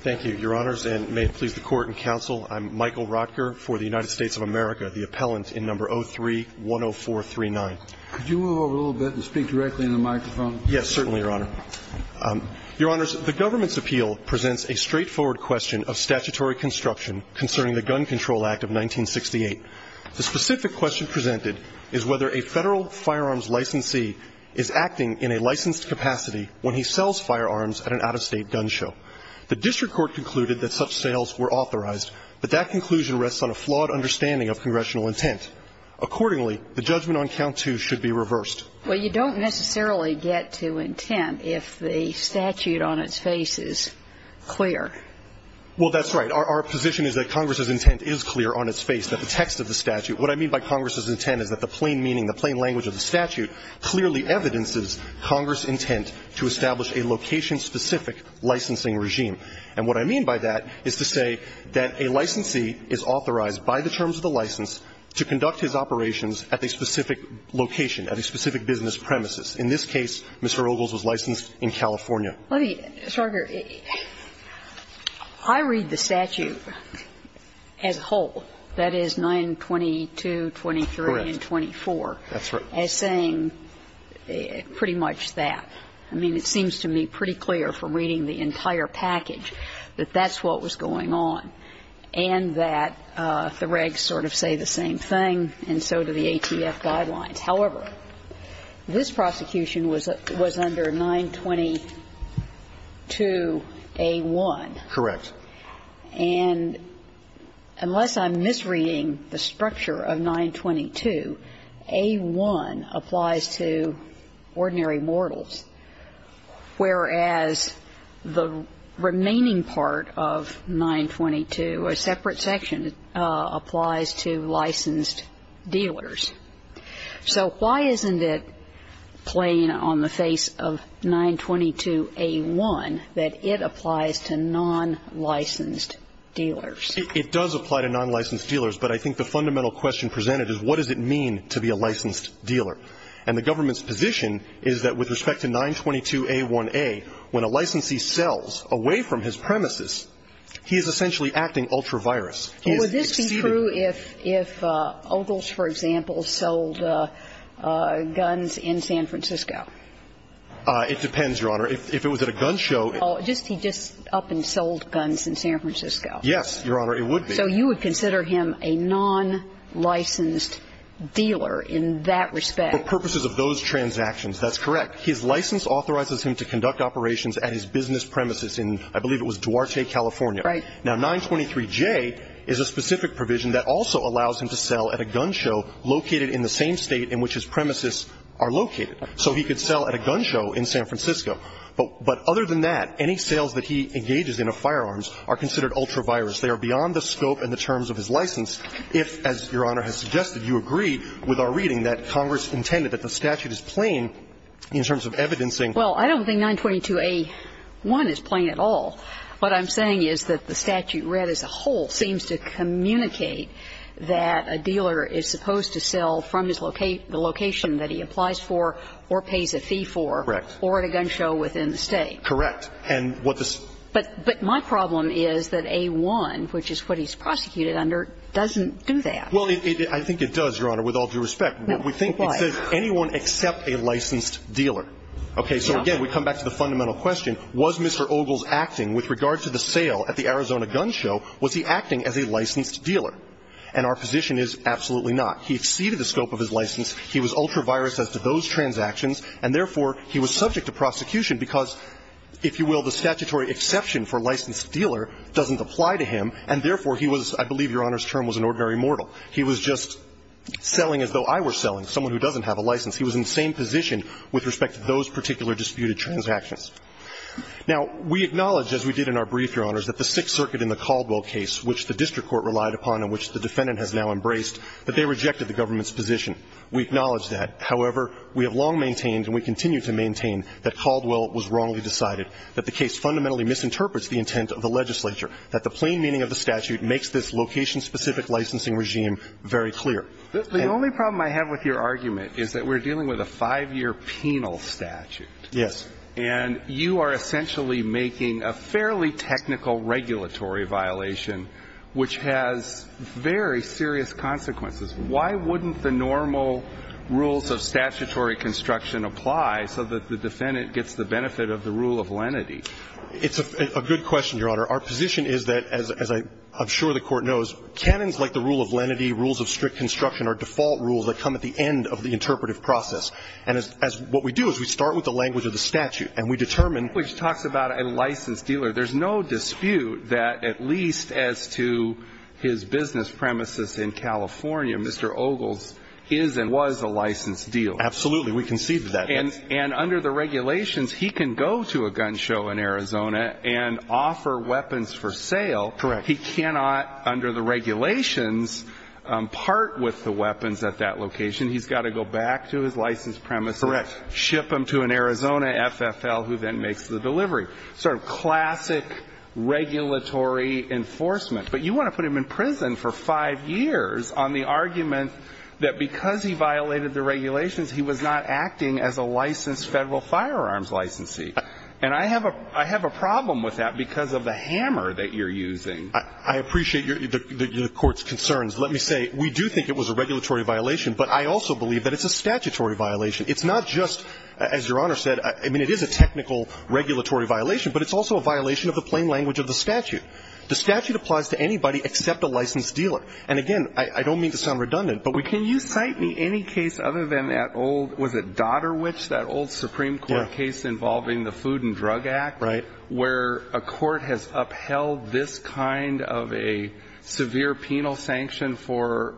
Thank you, your honors, and may it please the court and counsel, I'm Michael Rotker for the United States of America, the appellant in number 03-10439. Could you move over a little bit and speak directly into the microphone? Yes, certainly, your honor. Your honors, the government's appeal presents a straightforward question of statutory construction concerning the Gun Control Act of 1968. The specific question presented is whether a federal firearms licensee is acting in a licensed capacity when he sells firearms at an out-of-state gun show. The district court concluded that such sales were authorized, but that conclusion rests on a flawed understanding of congressional intent. Accordingly, the judgment on count two should be reversed. Well, you don't necessarily get to intent if the statute on its face is clear. Well, that's right. Our position is that Congress's intent is clear on its face, that the text of the statute What I mean by Congress's intent is that the plain meaning, the plain language of the statute clearly evidences Congress's intent to establish a location-specific licensing regime. And what I mean by that is to say that a licensee is authorized by the terms of the license to conduct his operations at a specific location, at a specific business premises. In this case, Mr. Ogles was licensed in California. Well, Mr. Arger, I read the statute as whole, that is, 922, 23, and 24, as saying pretty much that. I mean, it seems to me pretty clear from reading the entire package that that's what was going on, and that the regs sort of say the same thing, and so do the ATF guidelines. However, this prosecution was under 922A1. Correct. And unless I'm misreading the structure of 922, A1 applies to ordinary mortals, whereas the remaining part of 922, a separate section, applies to licensed dealers. So why isn't it plain on the face of 922A1 that it applies to nonlicensed dealers? It does apply to nonlicensed dealers, but I think the fundamental question presented is what does it mean to be a licensed dealer. And the government's position is that with respect to 922A1a, when a licensee sells away from his premises, he is essentially acting ultra-virus. But would this be true if Ogles, for example, sold guns in San Francisco? It depends, Your Honor. If it was at a gun show. He just up and sold guns in San Francisco. Yes, Your Honor. It would be. So you would consider him a nonlicensed dealer in that respect? For purposes of those transactions, that's correct. His license authorizes him to conduct operations at his business premises in, I believe it was Duarte, California. Now, 923J is a specific provision that also allows him to sell at a gun show located in the same state in which his premises are located. So he could sell at a gun show in San Francisco. But other than that, any sales that he engages in of firearms are considered ultra-virus. They are beyond the scope and the terms of his license if, as Your Honor has suggested, you agree with our reading that Congress intended that the statute is plain in terms of evidencing. Well, I don't think 922A1 is plain at all. What I'm saying is that the statute read as a whole seems to communicate that a dealer is supposed to sell from the location that he applies for or pays a fee for or at a gun show within the state. Correct. And what the ---- But my problem is that A1, which is what he's prosecuted under, doesn't do that. Well, I think it does, Your Honor, with all due respect. Why? We think it says anyone except a licensed dealer. Okay. So again, we come back to the fundamental question. Was Mr. Ogle's acting with regard to the sale at the Arizona gun show, was he acting as a licensed dealer? And our position is absolutely not. He exceeded the scope of his license. He was ultra-virus as to those transactions. And therefore, he was subject to prosecution because, if you will, the statutory exception for licensed dealer doesn't apply to him, and therefore he was, I believe Your Honor's term was an ordinary mortal. He was just selling as though I were selling, someone who doesn't have a license. He was in the same position with respect to those particular disputed transactions. Now, we acknowledge, as we did in our brief, Your Honors, that the Sixth Circuit in the Caldwell case, which the district court relied upon and which the defendant has now embraced, that they rejected the government's position. We acknowledge that. However, we have long maintained and we continue to maintain that Caldwell was wrongly decided, that the case fundamentally misinterprets the intent of the legislature, that the plain meaning of the statute makes this location-specific licensing regime very clear. The only problem I have with your argument is that we're dealing with a five-year penal statute. Yes. And you are essentially making a fairly technical regulatory violation which has very serious consequences. Why wouldn't the normal rules of statutory construction apply so that the defendant gets the benefit of the rule of lenity? It's a good question, Your Honor. Our position is that, as I'm sure the Court knows, canons like the rule of lenity, rules of strict construction, are default rules that come at the end of the interpretive process. And as what we do is we start with the language of the statute and we determine Which talks about a licensed dealer. There's no dispute that, at least as to his business premises in California, Mr. Ogles is and was a licensed dealer. Absolutely. We concede to that. And under the regulations, he can go to a gun show in Arizona and offer weapons for sale. Correct. He cannot, under the regulations, part with the weapons at that location. He's got to go back to his licensed premises. Correct. Ship them to an Arizona FFL who then makes the delivery. Sort of classic regulatory enforcement. But you want to put him in prison for 5 years on the argument that because he violated the regulations, he was not acting as a licensed Federal firearms licensee. And I have a problem with that because of the hammer that you're using. I appreciate the Court's concerns. Let me say, we do think it was a regulatory violation. But I also believe that it's a statutory violation. It's not just, as Your Honor said, I mean, it is a technical regulatory violation. But it's also a violation of the plain language of the statute. The statute applies to anybody except a licensed dealer. And, again, I don't mean to sound redundant. Can you cite me any case other than that old, was it Dotterwich, that old Supreme Court case involving the Food and Drug Act? Right. Where a court has upheld this kind of a severe penal sanction for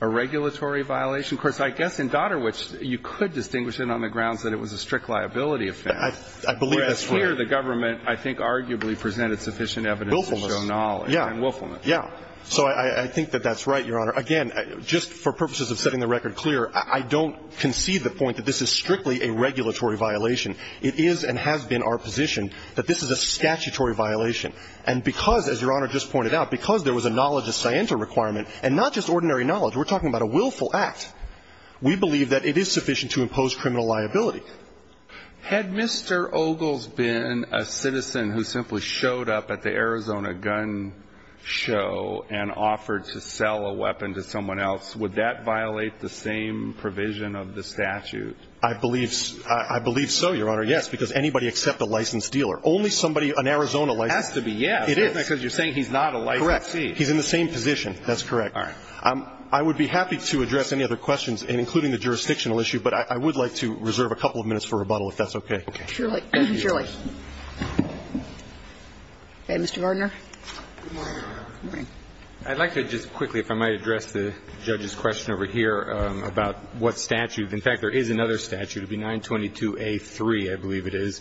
a regulatory violation? Of course, I guess in Dotterwich, you could distinguish it on the grounds that it was a strict liability offense. I believe that's right. Whereas here, the government, I think, arguably presented sufficient evidence to show knowledge. Wilfelman. Yeah. So I think that that's right, Your Honor. Again, just for purposes of setting the record clear, I don't concede the point that this is strictly a regulatory violation. It is and has been our position that this is a statutory violation. And because, as Your Honor just pointed out, because there was a knowledge of scienter requirement, and not just ordinary knowledge, we're talking about a willful act, we believe that it is sufficient to impose criminal liability. Had Mr. Ogles been a citizen who simply showed up at the Arizona gun show and offered to sell a weapon to someone else, would that violate the same provision of the statute? I believe so, Your Honor, yes, because anybody except a licensed dealer. Only somebody, an Arizona licensed dealer. It has to be, yes. Because you're saying he's not a licensed thief. Correct. He's in the same position. That's correct. All right. I would be happy to address any other questions, including the jurisdictional issue, but I would like to reserve a couple of minutes for rebuttal, if that's okay. Okay. Surely. Surely. Okay. Mr. Gardner. I'd like to just quickly, if I might, address the judge's question over here about what statute. In fact, there is another statute. It would be 922A3, I believe it is,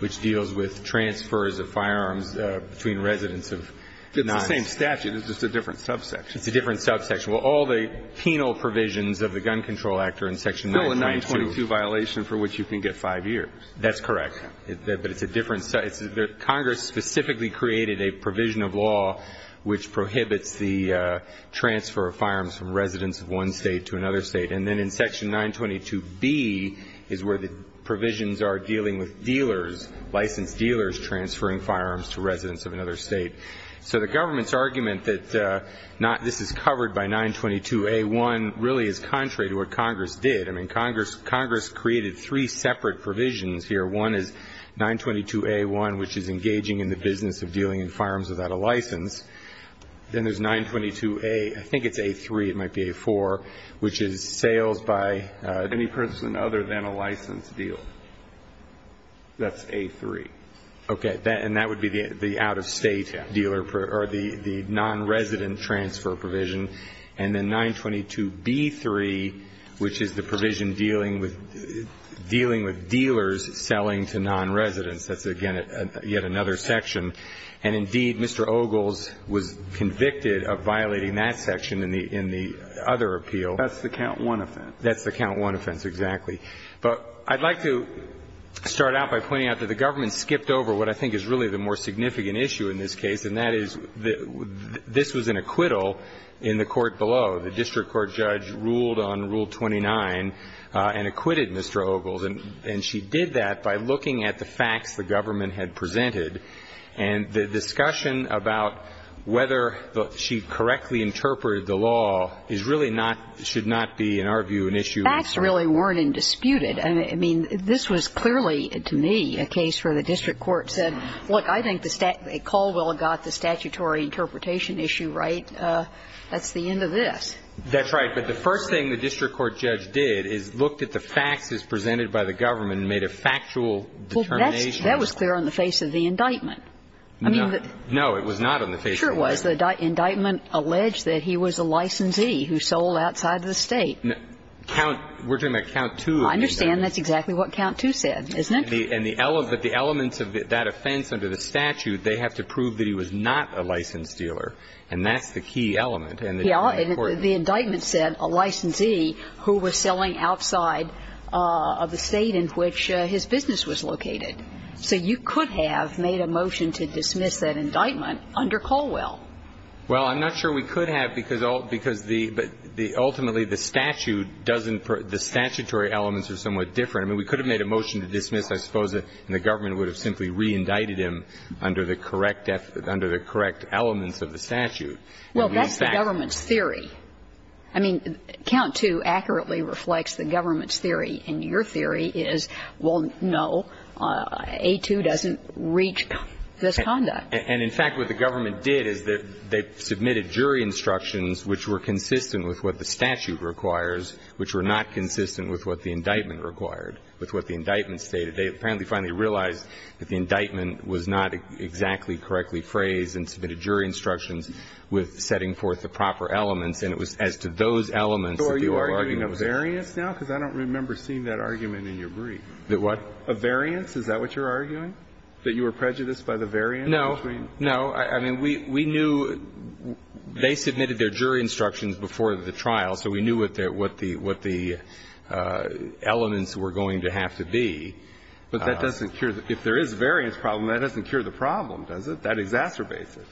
which deals with transfers of firearms between residents of nine. It's the same statute. It's just a different subsection. It's a different subsection. Well, all the penal provisions of the Gun Control Act are in section 922. No, a 922 violation for which you can get five years. That's correct. But it's a different. Congress specifically created a provision of law which prohibits the transfer of firearms from residents of one State to another State. And then in section 922B is where the provisions are dealing with dealers, licensed dealers transferring firearms to residents of another State. So the government's argument that this is covered by 922A1 really is contrary to what Congress did. I mean, Congress created three separate provisions here. One is 922A1, which is engaging in the business of dealing in firearms without a license. Then there's 922A, I think it's A3, it might be A4, which is sales by any person other than a licensed dealer. That's A3. Okay. And that would be the out-of-State dealer or the nonresident transfer provision. And then 922B3, which is the provision dealing with dealers selling to nonresidents. That's, again, yet another section. And, indeed, Mr. Ogles was convicted of violating that section in the other appeal. That's the Count I offense. That's the Count I offense, exactly. But I'd like to start out by pointing out that the government skipped over what I think is really the more significant issue in this case, and that is this was an acquittal in the court below. The district court judge ruled on Rule 29 and acquitted Mr. Ogles. And she did that by looking at the facts the government had presented, and the discussion about whether she correctly interpreted the law is really not, should not be, in our view, an issue. Facts really weren't indisputed. I mean, this was clearly, to me, a case where the district court said, look, I think Caldwell got the statutory interpretation issue right. That's the end of this. That's right. But the first thing the district court judge did is looked at the facts as presented by the government and made a factual determination. Well, that was clear on the face of the indictment. No. No, it was not on the face of the indictment. Sure it was. The indictment alleged that he was a licensee who sold outside of the State. We're talking about Count II. I understand. That's exactly what Count II said, isn't it? And the elements of that offense under the statute, they have to prove that he was not a licensed dealer. And that's the key element. Yes. And the indictment said a licensee who was selling outside of the State in which his business was located. So you could have made a motion to dismiss that indictment under Caldwell. Well, I'm not sure we could have, because the ultimately the statute doesn't the statutory elements are somewhat different. I mean, we could have made a motion to dismiss, I suppose, and the government would have simply reindicted him under the correct elements of the statute. Well, that's the government's theory. I mean, Count II accurately reflects the government's theory. And your theory is, well, no, A2 doesn't reach this conduct. And in fact, what the government did is that they submitted jury instructions which were consistent with what the statute requires, which were not consistent with what the indictment required, with what the indictment stated. They apparently finally realized that the indictment was not exactly correctly phrased and submitted jury instructions with setting forth the proper elements, and it was as to those elements that the argument was made. So are you arguing a variance now? Because I don't remember seeing that argument in your brief. The what? A variance. Is that what you're arguing, that you were prejudiced by the variance? No. No. I mean, we knew they submitted their jury instructions before the trial, so we knew what the elements were going to have to be. But that doesn't cure the – if there is a variance problem, that doesn't cure the problem, does it? That exacerbates it.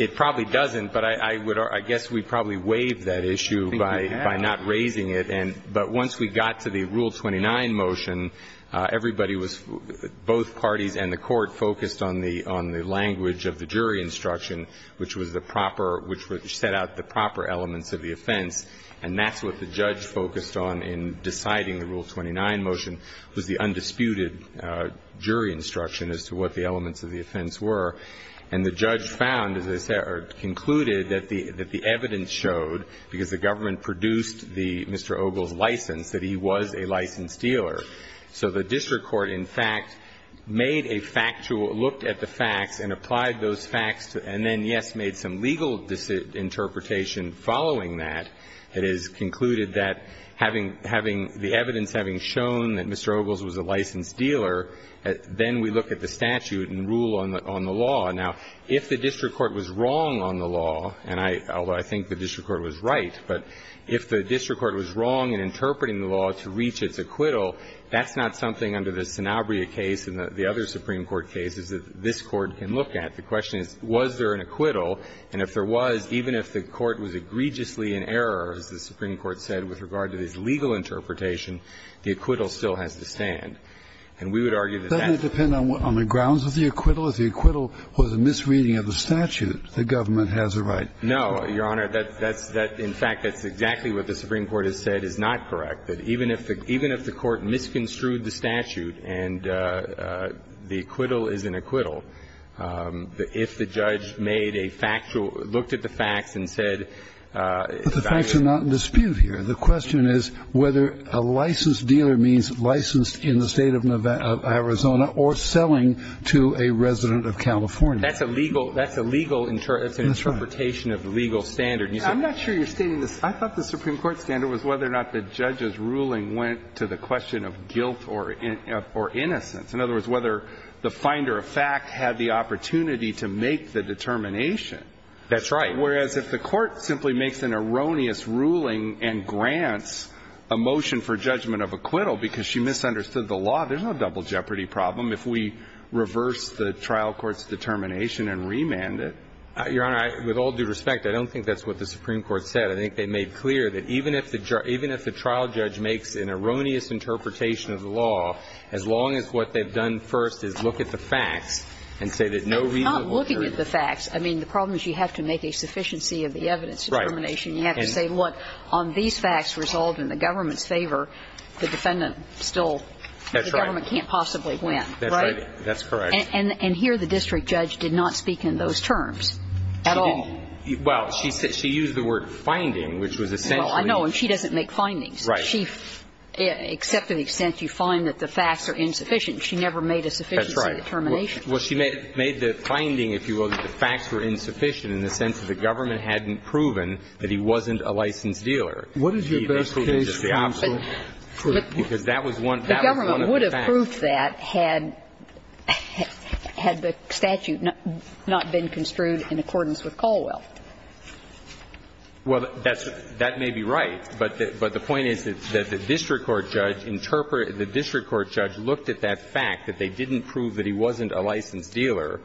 It probably doesn't, but I would – I guess we probably waived that issue by not raising it. I think we have. But once we got to the Rule 29 motion, everybody was – both parties and the Court focused on the language of the jury instruction, which was the proper – which set out the proper elements of the offense. And that's what the judge focused on in deciding the Rule 29 motion was the undisputed as to what the elements of the offense were. And the judge found, as I said – or concluded that the evidence showed, because the government produced the – Mr. Ogles' license, that he was a licensed dealer. So the district court, in fact, made a factual – looked at the facts and applied those facts and then, yes, made some legal interpretation following that. It is concluded that having – the evidence having shown that Mr. Ogles was a licensed dealer, then we look at the statute and rule on the law. Now, if the district court was wrong on the law, and I – although I think the district court was right, but if the district court was wrong in interpreting the law to reach its acquittal, that's not something under the Sanabria case and the other Supreme Court cases that this Court can look at. The question is, was there an acquittal? And if there was, even if the Court was egregiously in error, as the Supreme Court said, with regard to its legal interpretation, the acquittal still has to stand. And we would argue that that's the case. Kennedy. Doesn't it depend on the grounds of the acquittal? If the acquittal was a misreading of the statute, the government has a right. No, Your Honor. That's – in fact, that's exactly what the Supreme Court has said is not correct, that even if the – even if the Court misconstrued the statute and the acquittal is an acquittal, if the judge made a factual – looked at the facts and said – But the facts are not in dispute here. The question is whether a licensed dealer means licensed in the State of Arizona or selling to a resident of California. That's a legal – that's a legal interpretation of the legal standard. I'm not sure you're stating this. I thought the Supreme Court standard was whether or not the judge's ruling went to the question of guilt or innocence. In other words, whether the finder of fact had the opportunity to make the determination. That's right. Whereas if the Court simply makes an erroneous ruling and grants a motion for judgment of acquittal because she misunderstood the law, there's no double jeopardy problem if we reverse the trial court's determination and remand it. Your Honor, with all due respect, I don't think that's what the Supreme Court said. I think they made clear that even if the trial judge makes an erroneous interpretation of the law, as long as what they've done first is look at the facts and say that no reasonable jury – I'm not looking at the facts. I mean, the problem is you have to make a sufficiency of the evidence determination. Right. You have to say, look, on these facts resolved in the government's favor, the defendant still – That's right. The government can't possibly win, right? That's right. That's correct. And here the district judge did not speak in those terms at all. She didn't. Well, she said – she used the word finding, which was essentially – Well, I know. And she doesn't make findings. Right. She – except to the extent you find that the facts are insufficient, she never made a sufficiency determination. That's right. Well, she made the finding, if you will, that the facts were insufficient in the sense that the government hadn't proven that he wasn't a licensed dealer. What is your best case? Because that was one – that was one of the facts. The government would have proved that had the statute not been construed in accordance with Caldwell. Well, that's – that may be right, but the point is that the district court judge looked at that fact, that they didn't prove that he wasn't a licensed dealer,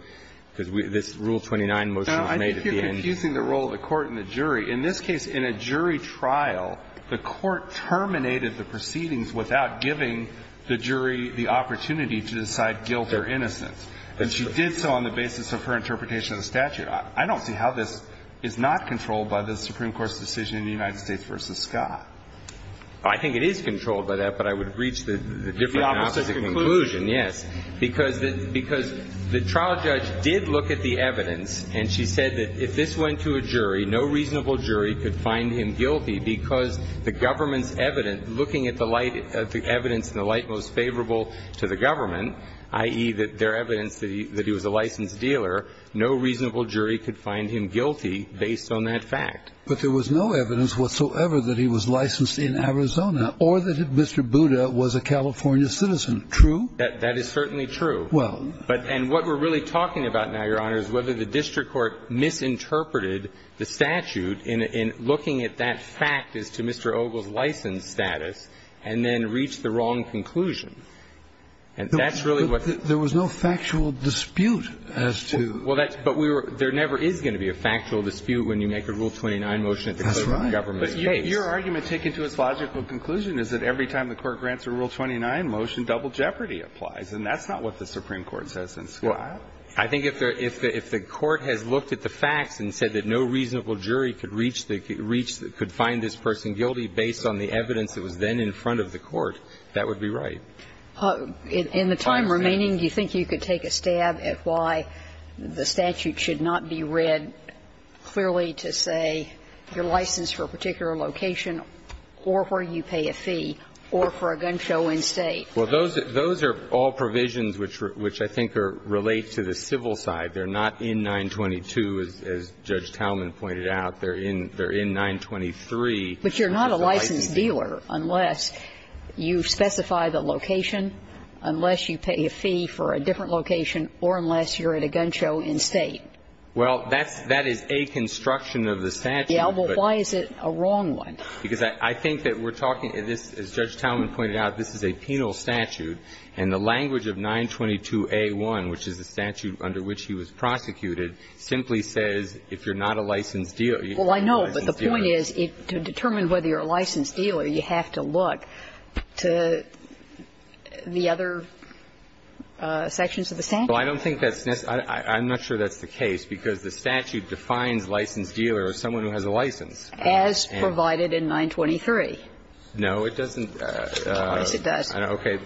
because this Rule 29 motion was made at the end. Now, I think you're confusing the role of the court and the jury. In this case, in a jury trial, the court terminated the proceedings without giving the jury the opportunity to decide guilt or innocence. That's true. And she did so on the basis of her interpretation of the statute. I don't see how this is not controlled by the Supreme Court's decision in the United States v. Scott. Well, I think it is controlled by that, but I would have reached a different The opposite conclusion. Yes. Because the trial judge did look at the evidence, and she said that if this went to a jury, no reasonable jury could find him guilty because the government's evidence, looking at the light – the evidence in the light most favorable to the government, i.e., their evidence that he was a licensed dealer, no reasonable jury could find him guilty based on that fact. But there was no evidence whatsoever that he was licensed in Arizona or that Mr. Buda was a California citizen. True. That is certainly true. Well. And what we're really talking about now, Your Honor, is whether the district court misinterpreted the statute in looking at that fact as to Mr. Ogle's licensed status and then reached the wrong conclusion. And that's really what the – There was no factual dispute as to – Well, that's – but we were – there never is going to be a factual dispute when you make a Rule 29 motion at the government's case. That's right. But your argument, taken to its logical conclusion, is that every time the Court grants a Rule 29 motion, double jeopardy applies. And that's not what the Supreme Court says in Scott. Well, I think if there – if the Court has looked at the facts and said that no reasonable jury could reach the – could find this person guilty based on the evidence that was then in front of the Court, that would be right. In the time remaining, do you think you could take a stab at why the statute should not be read clearly to say you're licensed for a particular location or where you pay a fee or for a gun show in State? Well, those – those are all provisions which – which I think are – relate to the civil side. They're not in 922, as Judge Talman pointed out. They're in – they're in 923. But you're not a licensed dealer unless you specify the location, unless you pay a fee for a different location, or unless you're at a gun show in State. Well, that's – that is a construction of the statute. Yeah, well, why is it a wrong one? Because I think that we're talking – this, as Judge Talman pointed out, this is a penal statute, and the language of 922a1, which is the statute under which he was prosecuted, simply says if you're not a licensed dealer, you can't be a licensed dealer. But the point is to determine whether you're a licensed dealer, you have to look to the other sections of the statute. Well, I don't think that's necessary. I'm not sure that's the case, because the statute defines licensed dealer as someone who has a license. As provided in 923. No, it doesn't. Yes, it does. Okay.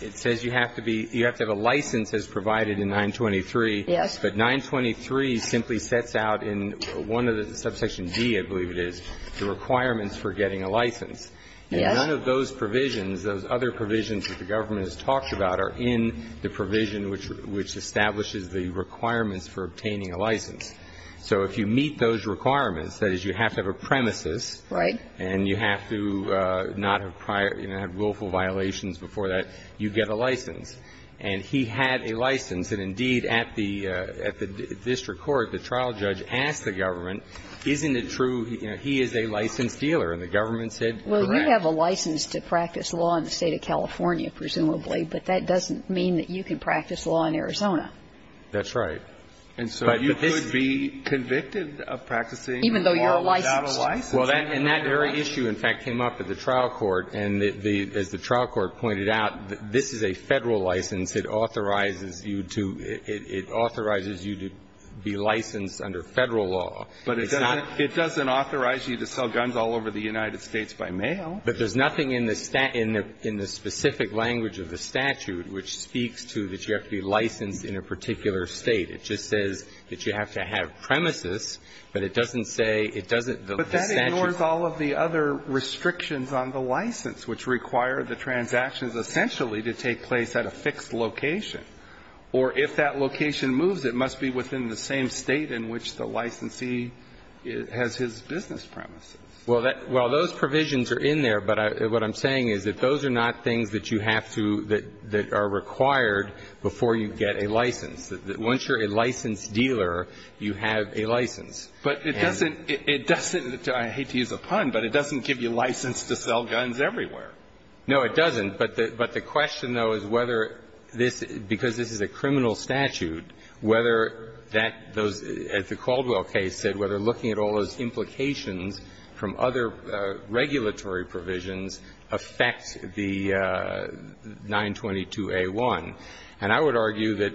It says you have to be – you have to have a license as provided in 923. Yes. But 923 simply sets out in one of the – subsection D, I believe it is, the requirements for getting a license. Yes. And none of those provisions, those other provisions that the government has talked about, are in the provision which establishes the requirements for obtaining a license. So if you meet those requirements, that is, you have to have a premises. Right. And you have to not have prior – you know, have willful violations before that, you get a license. And he had a license. And, indeed, at the district court, the trial judge asked the government, isn't it true, you know, he is a licensed dealer? And the government said, correct. Well, you have a license to practice law in the State of California, presumably, but that doesn't mean that you can practice law in Arizona. That's right. And so you could be convicted of practicing law without a license. Even though you're licensed. Well, and that very issue, in fact, came up at the trial court. And the – as the trial court pointed out, this is a Federal license. It authorizes you to – it authorizes you to be licensed under Federal law. But it's not – it doesn't authorize you to sell guns all over the United States by mail. But there's nothing in the – in the specific language of the statute which speaks to that you have to be licensed in a particular State. It just says that you have to have premises, but it doesn't say – it doesn't – the statute. But it ignores all of the other restrictions on the license, which require the transactions essentially to take place at a fixed location. Or if that location moves, it must be within the same State in which the licensee has his business premises. Well, that – well, those provisions are in there, but what I'm saying is that those are not things that you have to – that are required before you get a license. Once you're a licensed dealer, you have a license. But it doesn't – it doesn't – I hate to use a pun, but it doesn't give you license to sell guns everywhere. No, it doesn't. But the – but the question, though, is whether this – because this is a criminal statute, whether that – those – as the Caldwell case said, whether looking at all those implications from other regulatory provisions affects the 922a1. And I would argue that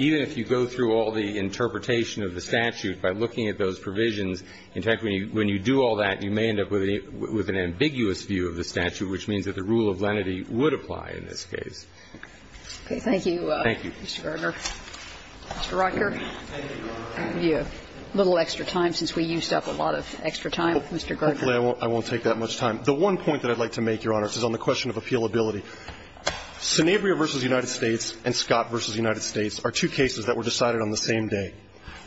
even if you go through all the interpretation of the statute by looking at those provisions, in fact, when you do all that, you may end up with an ambiguous view of the statute, which means that the rule of lenity would apply in this case. Okay. Thank you, Mr. Gardner. Thank you. Mr. Rocker. I'll give you a little extra time since we used up a lot of extra time. Mr. Gardner. Hopefully I won't take that much time. The one point that I'd like to make, Your Honor, is on the question of appealability. Sanabria v. United States and Scott v. United States are two cases that were decided on the same day.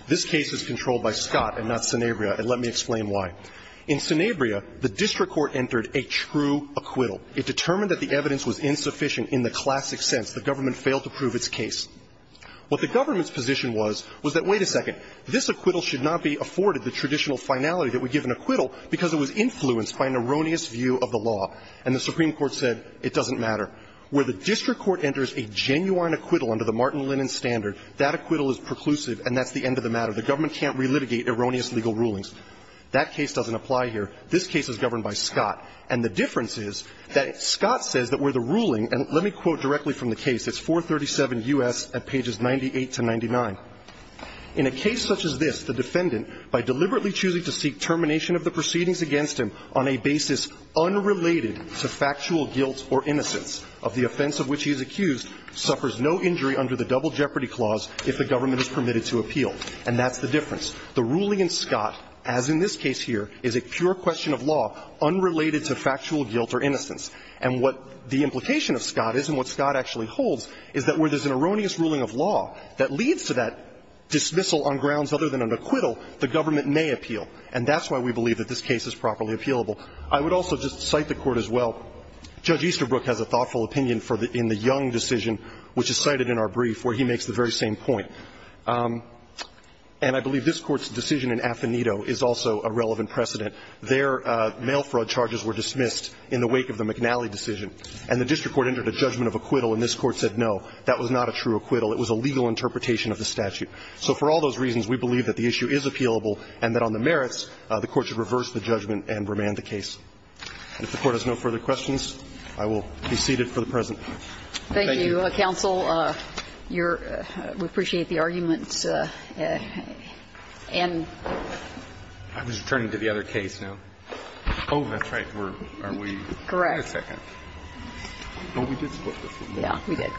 This case is controlled by Scott and not Sanabria, and let me explain why. In Sanabria, the district court entered a true acquittal. It determined that the evidence was insufficient in the classic sense. The government failed to prove its case. What the government's position was, was that, wait a second, this acquittal should not be afforded the traditional finality that would give an acquittal because it was influenced by an erroneous view of the law. And the Supreme Court said it doesn't matter. Where the district court enters a genuine acquittal under the Martin Lennon standard, that acquittal is preclusive and that's the end of the matter. The government can't relitigate erroneous legal rulings. That case doesn't apply here. This case is governed by Scott. And the difference is that Scott says that where the ruling, and let me quote directly from the case. It's 437 U.S. at pages 98 to 99. In a case such as this, the defendant, by deliberately choosing to seek termination of the proceedings against him on a basis unrelated to factual guilt or innocence of the offense of which he is accused, suffers no injury under the double jeopardy clause if the government is permitted to appeal. And that's the difference. The ruling in Scott, as in this case here, is a pure question of law unrelated to factual guilt or innocence. And what the implication of Scott is and what Scott actually holds is that where there's an erroneous ruling of law that leads to that dismissal on grounds other than an acquittal, the government may appeal. And that's why we believe that this case is properly appealable. I would also just cite the Court as well. Judge Easterbrook has a thoughtful opinion in the Young decision, which is cited in our brief, where he makes the very same point. And I believe this Court's decision in Affinito is also a relevant precedent. Their mail fraud charges were dismissed in the wake of the McNally decision. And the district court entered a judgment of acquittal, and this Court said, no, that was not a true acquittal. It was a legal interpretation of the statute. So for all those reasons, we believe that the issue is appealable and that on the merits, the Court should reverse the judgment and remand the case. And if the Court has no further questions, I will be seated for the present. Thank you. Thank you, counsel. Your – we appreciate the argument. And – I was returning to the other case now. Oh, that's right. We're – aren't we? Correct. Wait a second. Oh, we did split this one. Yeah, we did.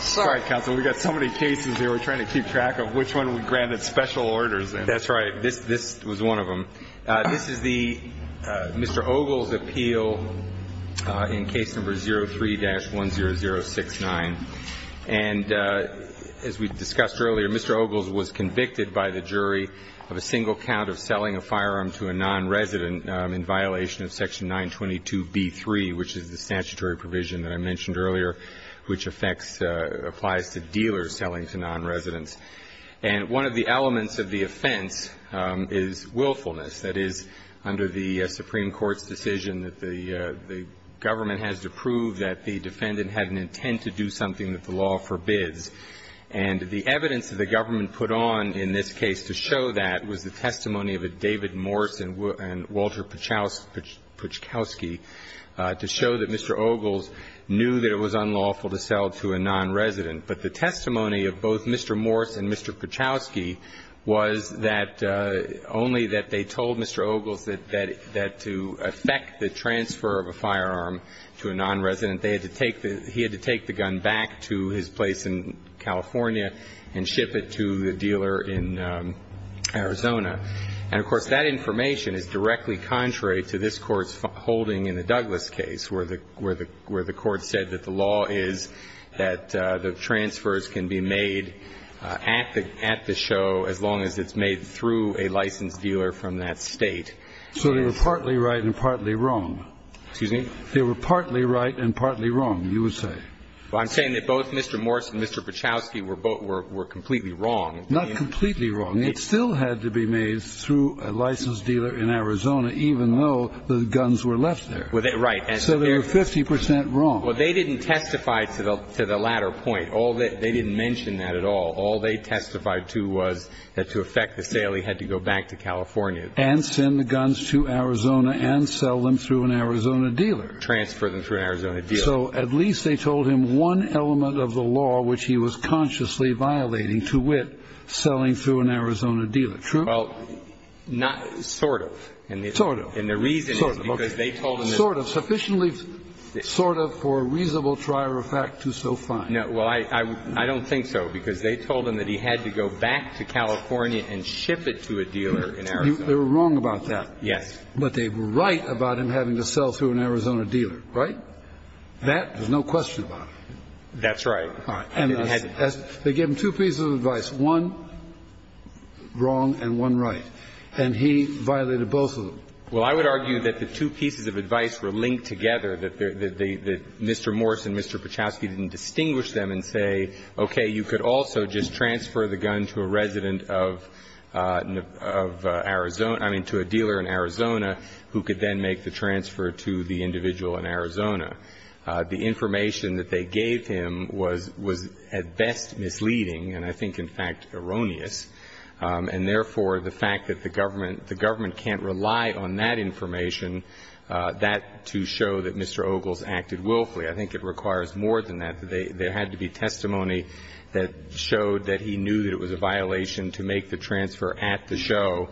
Sorry, counsel. We've got so many cases here we're trying to keep track of. Which one we granted special orders in? That's right. This was one of them. This is the – Mr. Ogle's appeal in case number 03-10069. And as we discussed earlier, Mr. Ogle was convicted by the jury of a single count of selling a firearm to a nonresident in violation of section 922B3, which is the statutory provision that I mentioned earlier, which affects – applies to dealers selling to nonresidents. And one of the elements of the offense is willfulness. That is, under the Supreme Court's decision that the government has to prove that the defendant had an intent to do something that the law forbids. And the evidence that the government put on in this case to show that was the testimony of a David Morse and Walter Pachowski to show that Mr. Ogle knew that it was unlawful to sell to a nonresident. But the testimony of both Mr. Morse and Mr. Pachowski was that only that they told Mr. Ogle that to affect the transfer of a firearm to a nonresident, they had to take the – he had to take the gun back to his place in California and ship it to the dealer in Arizona. And, of course, that information is directly contrary to this Court's holding in the Douglas case, where the Court said that the law is that the transfers can be made at the show as long as it's made through a licensed dealer from that State. So they were partly right and partly wrong. Excuse me? They were partly right and partly wrong, you would say. Well, I'm saying that both Mr. Morse and Mr. Pachowski were completely wrong. Not completely wrong. It still had to be made through a licensed dealer in Arizona, even though the guns were left there. Right. So they were 50 percent wrong. Well, they didn't testify to the latter point. They didn't mention that at all. All they testified to was that to affect the sale, he had to go back to California. And send the guns to Arizona and sell them through an Arizona dealer. Transfer them through an Arizona dealer. So at least they told him one element of the law which he was consciously violating to wit, selling through an Arizona dealer. True? Well, not sort of. Sort of. And the reason is because they told him this. Sort of. Sufficiently sort of for reasonable trifecta to so fine. No. Well, I don't think so, because they told him that he had to go back to California and ship it to a dealer in Arizona. They were wrong about that. Yes. But they were right about him having to sell through an Arizona dealer. Right? That, there's no question about it. That's right. And they gave him two pieces of advice, one wrong and one right. And he violated both of them. Well, I would argue that the two pieces of advice were linked together, that Mr. Morse and Mr. Pachowski didn't distinguish them and say, okay, you could also just transfer the gun to a resident of Arizona, I mean, to a dealer in Arizona, who could then make the transfer to the individual in Arizona. The information that they gave him was at best misleading and I think, in fact, erroneous. And therefore, the fact that the government can't rely on that information, that to show that Mr. Ogles acted willfully, I think it requires more than that. There had to be testimony that showed that he knew that it was a violation to make the transfer at the show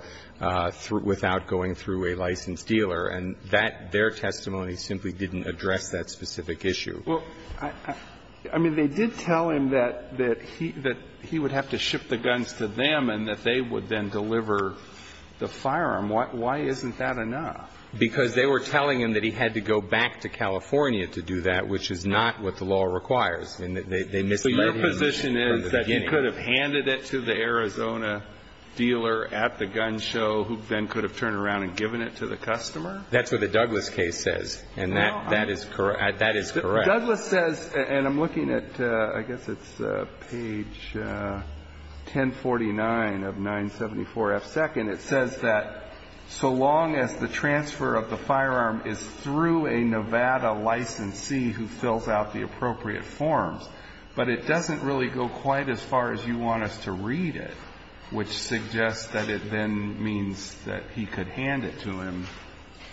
without going through a licensed dealer. And that their testimony simply didn't address that specific issue. Well, I mean, they did tell him that he would have to ship the guns to them and that they would then deliver the firearm. Why isn't that enough? Because they were telling him that he had to go back to California to do that, which is not what the law requires, and they misled him from the beginning. But your position is that he could have handed it to the Arizona dealer at the gun show who then could have turned around and given it to the customer? That's what the Douglas case says. And that is correct. Douglas says, and I'm looking at, I guess it's page 1049 of 974F2nd. It says that so long as the transfer of the firearm is through a Nevada licensee who fills out the appropriate forms. But it doesn't really go quite as far as you want us to read it, which suggests that it then means that he could hand it to him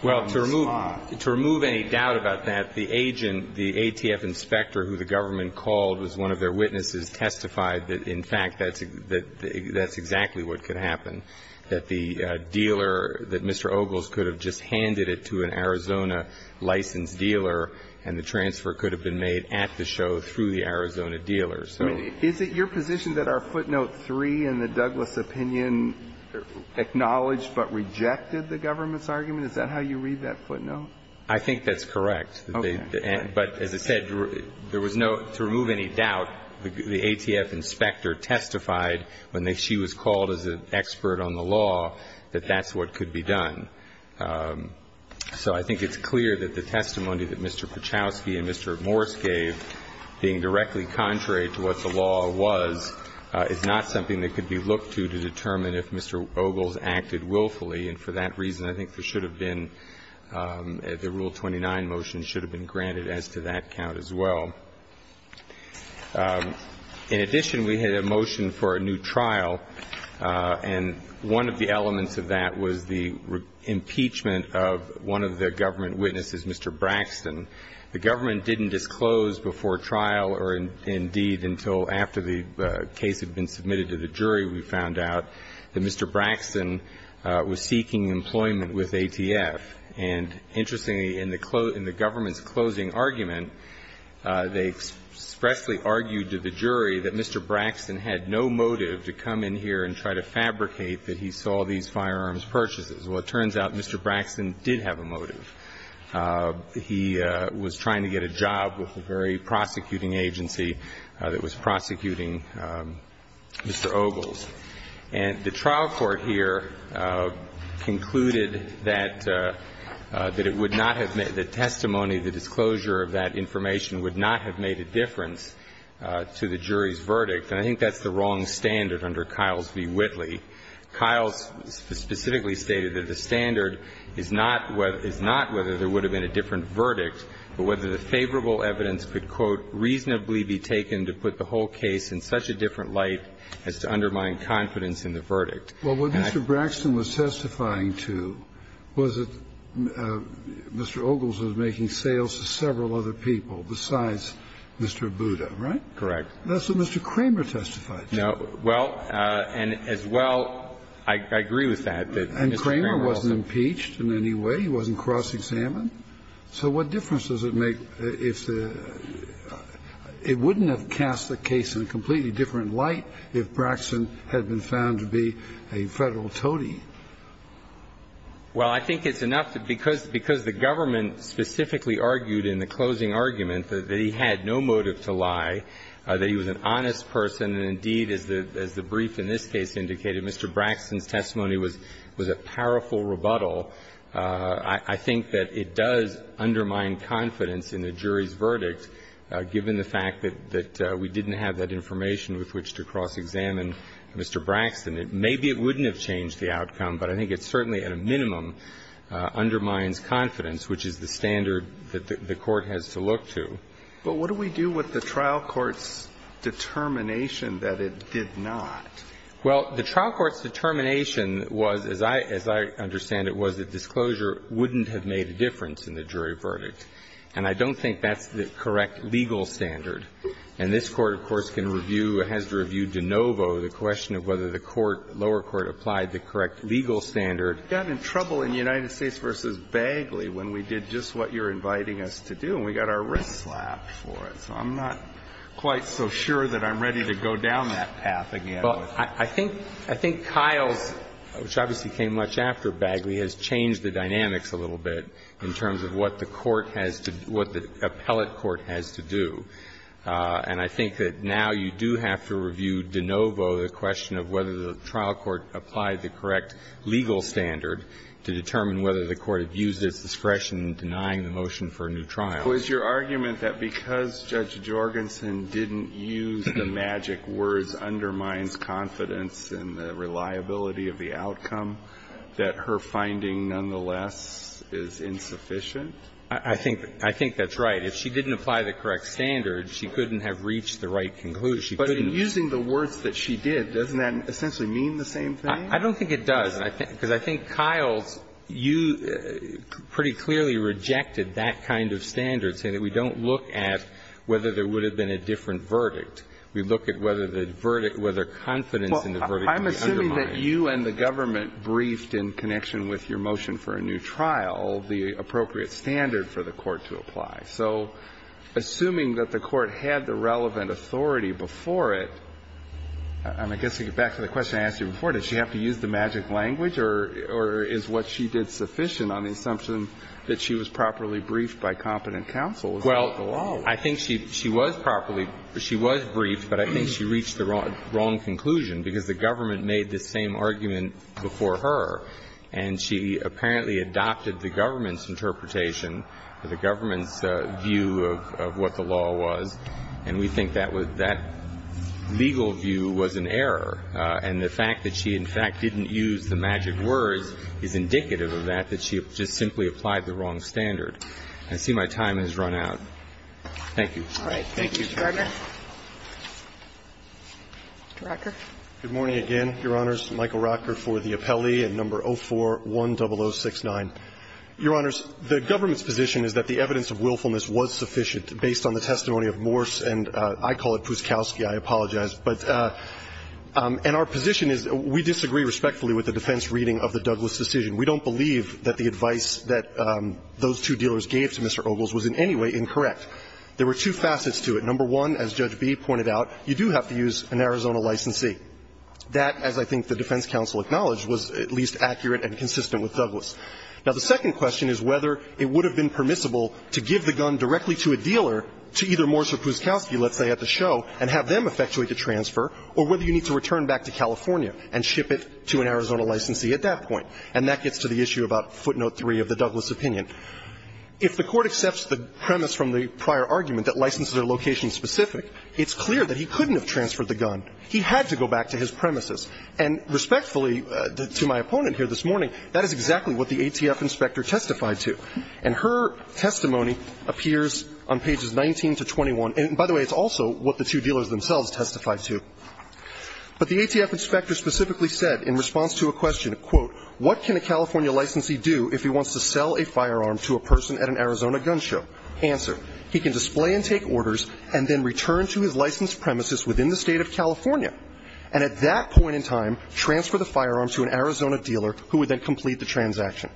on the spot. Well, to remove any doubt about that, the agent, the ATF inspector who the government called was one of their witnesses, testified that, in fact, that's exactly what could happen, that the dealer, that Mr. Ogles could have just handed it to an Arizona licensed dealer and the transfer could have been made at the show through the Arizona dealer. Is it your position that our footnote 3 in the Douglas opinion acknowledged but rejected the government's argument? Is that how you read that footnote? I think that's correct. Okay. But as I said, there was no to remove any doubt, the ATF inspector testified when she was called as an expert on the law that that's what could be done. So I think it's clear that the testimony that Mr. Pachowski and Mr. Morris gave, being directly contrary to what the law was, is not something that could be looked to to determine if Mr. Ogles acted willfully. And for that reason, I think there should have been the Rule 29 motion should have been granted as to that count as well. In addition, we had a motion for a new trial. And one of the elements of that was the impeachment of one of the government witnesses, Mr. Braxton. The government didn't disclose before trial or indeed until after the case had been submitted to the jury, we found out that Mr. Braxton was seeking employment with ATF. And interestingly, in the government's closing argument, they expressly argued to the jury that Mr. Braxton had no motive to come in here and try to fabricate that he saw these firearms purchases. And the jury concluded that Mr. Braxton had no motive. He was trying to get a job with a very prosecuting agency that was prosecuting Mr. Ogles. And the trial court here concluded that it would not have made the testimony, the disclosure of that information, would not have made a difference to the jury's verdict. And I think that's the wrong standard under Kiles v. Whitley. Kiles specifically stated that the standard is not whether there would have been a different verdict, but whether the favorable evidence could, quote, reasonably be taken to put the whole case in such a different light as to undermine confidence And I think that's the wrong standard. Kennedy. Well, what Mr. Braxton was testifying to was that Mr. Ogles was making sales to several other people besides Mr. Abuda, right? Correct. That's what Mr. Kramer testified to. No. Well, and as well, I agree with that, that Mr. Kramer also And Kramer wasn't impeached in any way. He wasn't cross-examined. So what difference does it make if the It wouldn't have cast the case in a completely different light if Braxton had been found to be a Federal toady. Well, I think it's enough that because the government specifically argued in the closing argument that he had no motive to lie, that he was an honest person, and indeed, as the brief in this case indicated, Mr. Braxton's testimony was a powerful rebuttal. I think that it does undermine confidence in the jury's verdict, given the fact that we didn't have that information with which to cross-examine Mr. Braxton. Maybe it wouldn't have changed the outcome, but I think it certainly, at a minimum, undermines confidence, which is the standard that the Court has to look to. But what do we do with the trial court's determination that it did not? Well, the trial court's determination was, as I understand it, was that disclosure wouldn't have made a difference in the jury verdict. And I don't think that's the correct legal standard. And this Court, of course, can review, has to review de novo the question of whether the lower court applied the correct legal standard. We got in trouble in United States v. Bagley when we did just what you're inviting us to do, and we got our wrists slapped for it. So I'm not quite so sure that I'm ready to go down that path again. Well, I think Kyles, which obviously came much after Bagley, has changed the dynamics a little bit in terms of what the court has to do, what the appellate court has to do. And I think that now you do have to review de novo the question of whether the trial court applied the correct legal standard to determine whether the court had used its discretion in denying the motion for a new trial. Was your argument that because Judge Jorgensen didn't use the magic words, undermines confidence in the reliability of the outcome, that her finding nonetheless is insufficient? I think that's right. If she didn't apply the correct standard, she couldn't have reached the right conclusion. But in using the words that she did, doesn't that essentially mean the same thing? I don't think it does, because I think Kyles, you pretty clearly rejected that kind of standard, saying that we don't look at whether there would have been a different verdict. We look at whether the verdict, whether confidence in the verdict could be undermined. Well, I'm assuming that you and the government briefed in connection with your motion for a new trial the appropriate standard for the court to apply. So assuming that the court had the relevant authority before it, and I guess to get back to the question I asked you before, does she have to use the magic language or is what she did sufficient on the assumption that she was properly briefed by competent counsel about the law? Well, I think she was properly – she was briefed, but I think she reached the wrong conclusion, because the government made the same argument before her, and she apparently adopted the government's interpretation or the government's view of what the law was, and we think that was – that legal view was an error. And the fact that she, in fact, didn't use the magic words is indicative of that, that she just simply applied the wrong standard. I see my time has run out. Thank you. All right. Thank you, Mr. Gardner. Mr. Rocker. Good morning again, Your Honors. Michael Rocker for the appellee at No. 04-10069. Your Honors, the government's position is that the evidence of willfulness was sufficient based on the testimony of Morse, and I call it Pouskalski. I apologize, but – and our position is we disagree respectfully with the defense reading of the Douglas decision. We don't believe that the advice that those two dealers gave to Mr. Ogles was in any way incorrect. There were two facets to it. Number one, as Judge Bee pointed out, you do have to use an Arizona licensee. That, as I think the defense counsel acknowledged, was at least accurate and consistent with Douglas. Now, the second question is whether it would have been permissible to give the gun directly to a dealer to either Morse or Pouskalski, let's say, at the show, and have them effectuate the transfer, or whether you need to return back to California and ship it to an Arizona licensee at that point. And that gets to the issue about footnote 3 of the Douglas opinion. If the Court accepts the premise from the prior argument that licenses are location-specific, it's clear that he couldn't have transferred the gun. He had to go back to his premises. And respectfully, to my opponent here this morning, that is exactly what the ATF inspector testified to. And her testimony appears on pages 19 to 21. And, by the way, it's also what the two dealers themselves testified to. But the ATF inspector specifically said, in response to a question, quote, what can a California licensee do if he wants to sell a firearm to a person at an Arizona gun show? Answer, he can display and take orders and then return to his licensed premises within the State of California, and at that point in time, transfer the firearm to an Arizona dealer who would then complete the transaction.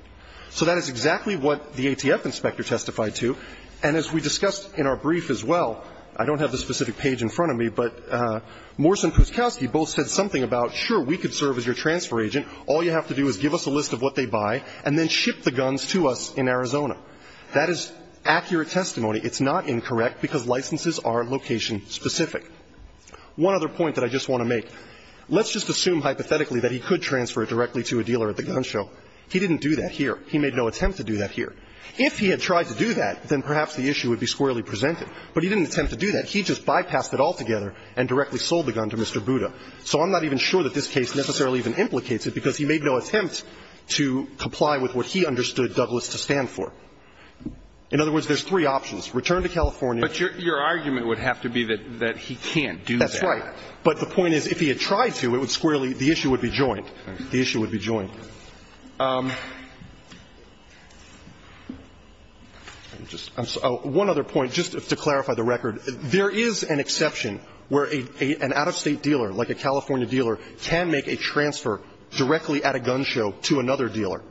So that is exactly what the ATF inspector testified to. And as we discussed in our brief as well, I don't have the specific page in front of me, but Morse and Puskowski both said something about, sure, we could serve as your transfer agent. All you have to do is give us a list of what they buy and then ship the guns to us in Arizona. That is accurate testimony. It's not incorrect, because licenses are location-specific. One other point that I just want to make. Let's just assume hypothetically that he could transfer it directly to a dealer at the gun show. He didn't do that here. He made no attempt to do that here. If he had tried to do that, then perhaps the issue would be squarely presented. But he didn't attempt to do that. He just bypassed it altogether and directly sold the gun to Mr. Buda. So I'm not even sure that this case necessarily even implicates it, because he made no attempt to comply with what he understood Douglas to stand for. In other words, there's three options, return to California. But your argument would have to be that he can't do that. That's right. But the point is, if he had tried to, it would squarely be, the issue would be joint. The issue would be joint. One other point, just to clarify the record. There is an exception where an out-of-State dealer, like a California dealer, can make a transfer directly at a gun show to another dealer.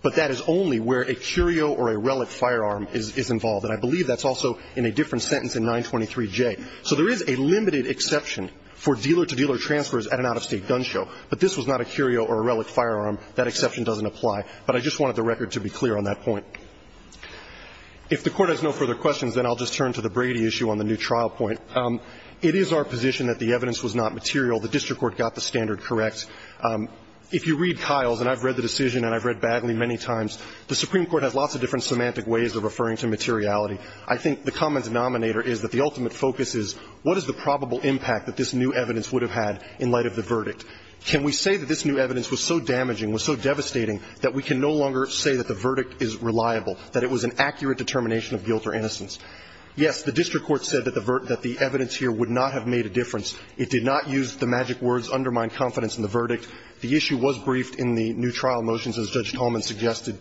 But that is only where a curio or a relic firearm is involved. And I believe that's also in a different sentence in 923J. So there is a limited exception for dealer-to-dealer transfers at an out-of-State gun show. But this was not a curio or a relic firearm. That exception doesn't apply. But I just wanted the record to be clear on that point. If the Court has no further questions, then I'll just turn to the Brady issue on the new trial point. It is our position that the evidence was not material. The district court got the standard correct. If you read Kiles, and I've read the decision and I've read Bagley many times, the Supreme Court has lots of different semantic ways of referring to materiality. I think the common denominator is that the ultimate focus is what is the probable impact that this new evidence would have had in light of the verdict. Can we say that this new evidence was so damaging, was so devastating, that we can no longer say that the verdict is reliable, that it was an accurate determination of guilt or innocence? Yes, the district court said that the evidence here would not have made a difference. It did not use the magic words undermine confidence in the verdict. The issue was briefed in the new trial motions, as Judge Tolman suggested.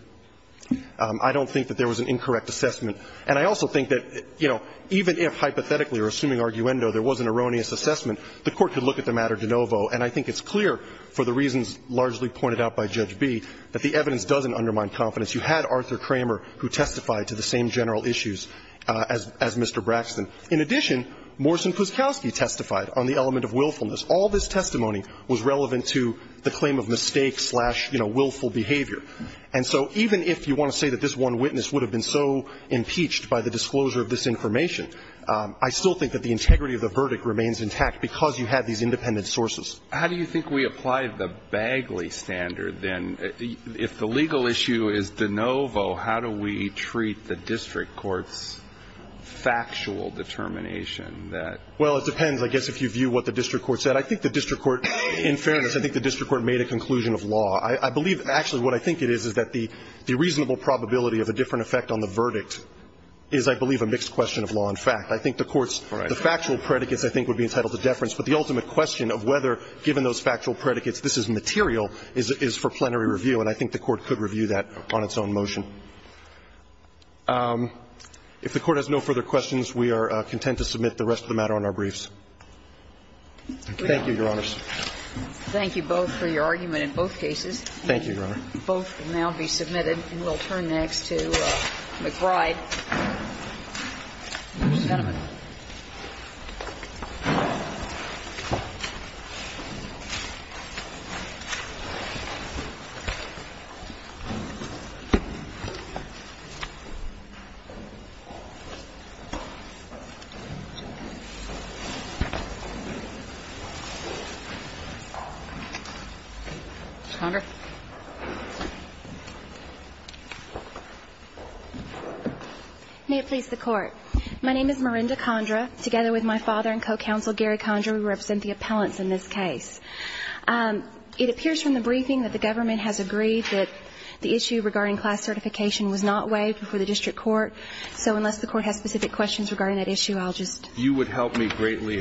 I don't think that there was an incorrect assessment. And I also think that, you know, even if hypothetically or assuming arguendo there was an erroneous assessment, the Court could look at the matter de novo. And I think it's clear, for the reasons largely pointed out by Judge B, that the evidence doesn't undermine confidence. You had Arthur Kramer, who testified to the same general issues as Mr. Braxton. In addition, Morrison-Puskowski testified on the element of willfulness. All this testimony was relevant to the claim of mistake-slash, you know, willful behavior. And so even if you want to say that this one witness would have been so impeached by the disclosure of this information, I still think that the integrity of the verdict remains intact because you had these independent sources. How do you think we apply the Bagley standard, then? If the legal issue is de novo, how do we treat the district court's factual determination that? Well, it depends. I guess if you view what the district court said, I think the district court, in fairness, I think the district court made a conclusion of law. I believe actually what I think it is is that the reasonable probability of a different effect on the verdict is, I believe, a mixed question of law and fact. I think the court's factual predicates, I think, would be entitled to deference. But the ultimate question of whether, given those factual predicates, this is material is for plenary review. And I think the Court could review that on its own motion. If the Court has no further questions, we are content to submit the rest of the matter on our briefs. Thank you, Your Honors. Thank you both for your argument in both cases. Thank you, Your Honor. Both will now be submitted, and we'll turn next to McBride. Thank you, Your Honor. May it please the Court. My name is Miranda Condra. Together with my father and co-counsel Gary Condra, we represent the appellants in this case. It appears from the briefing that the government has agreed that the issue regarding class certification was not waived before the district court. So unless the Court has specific questions regarding that issue, I'll just... You would help me greatly.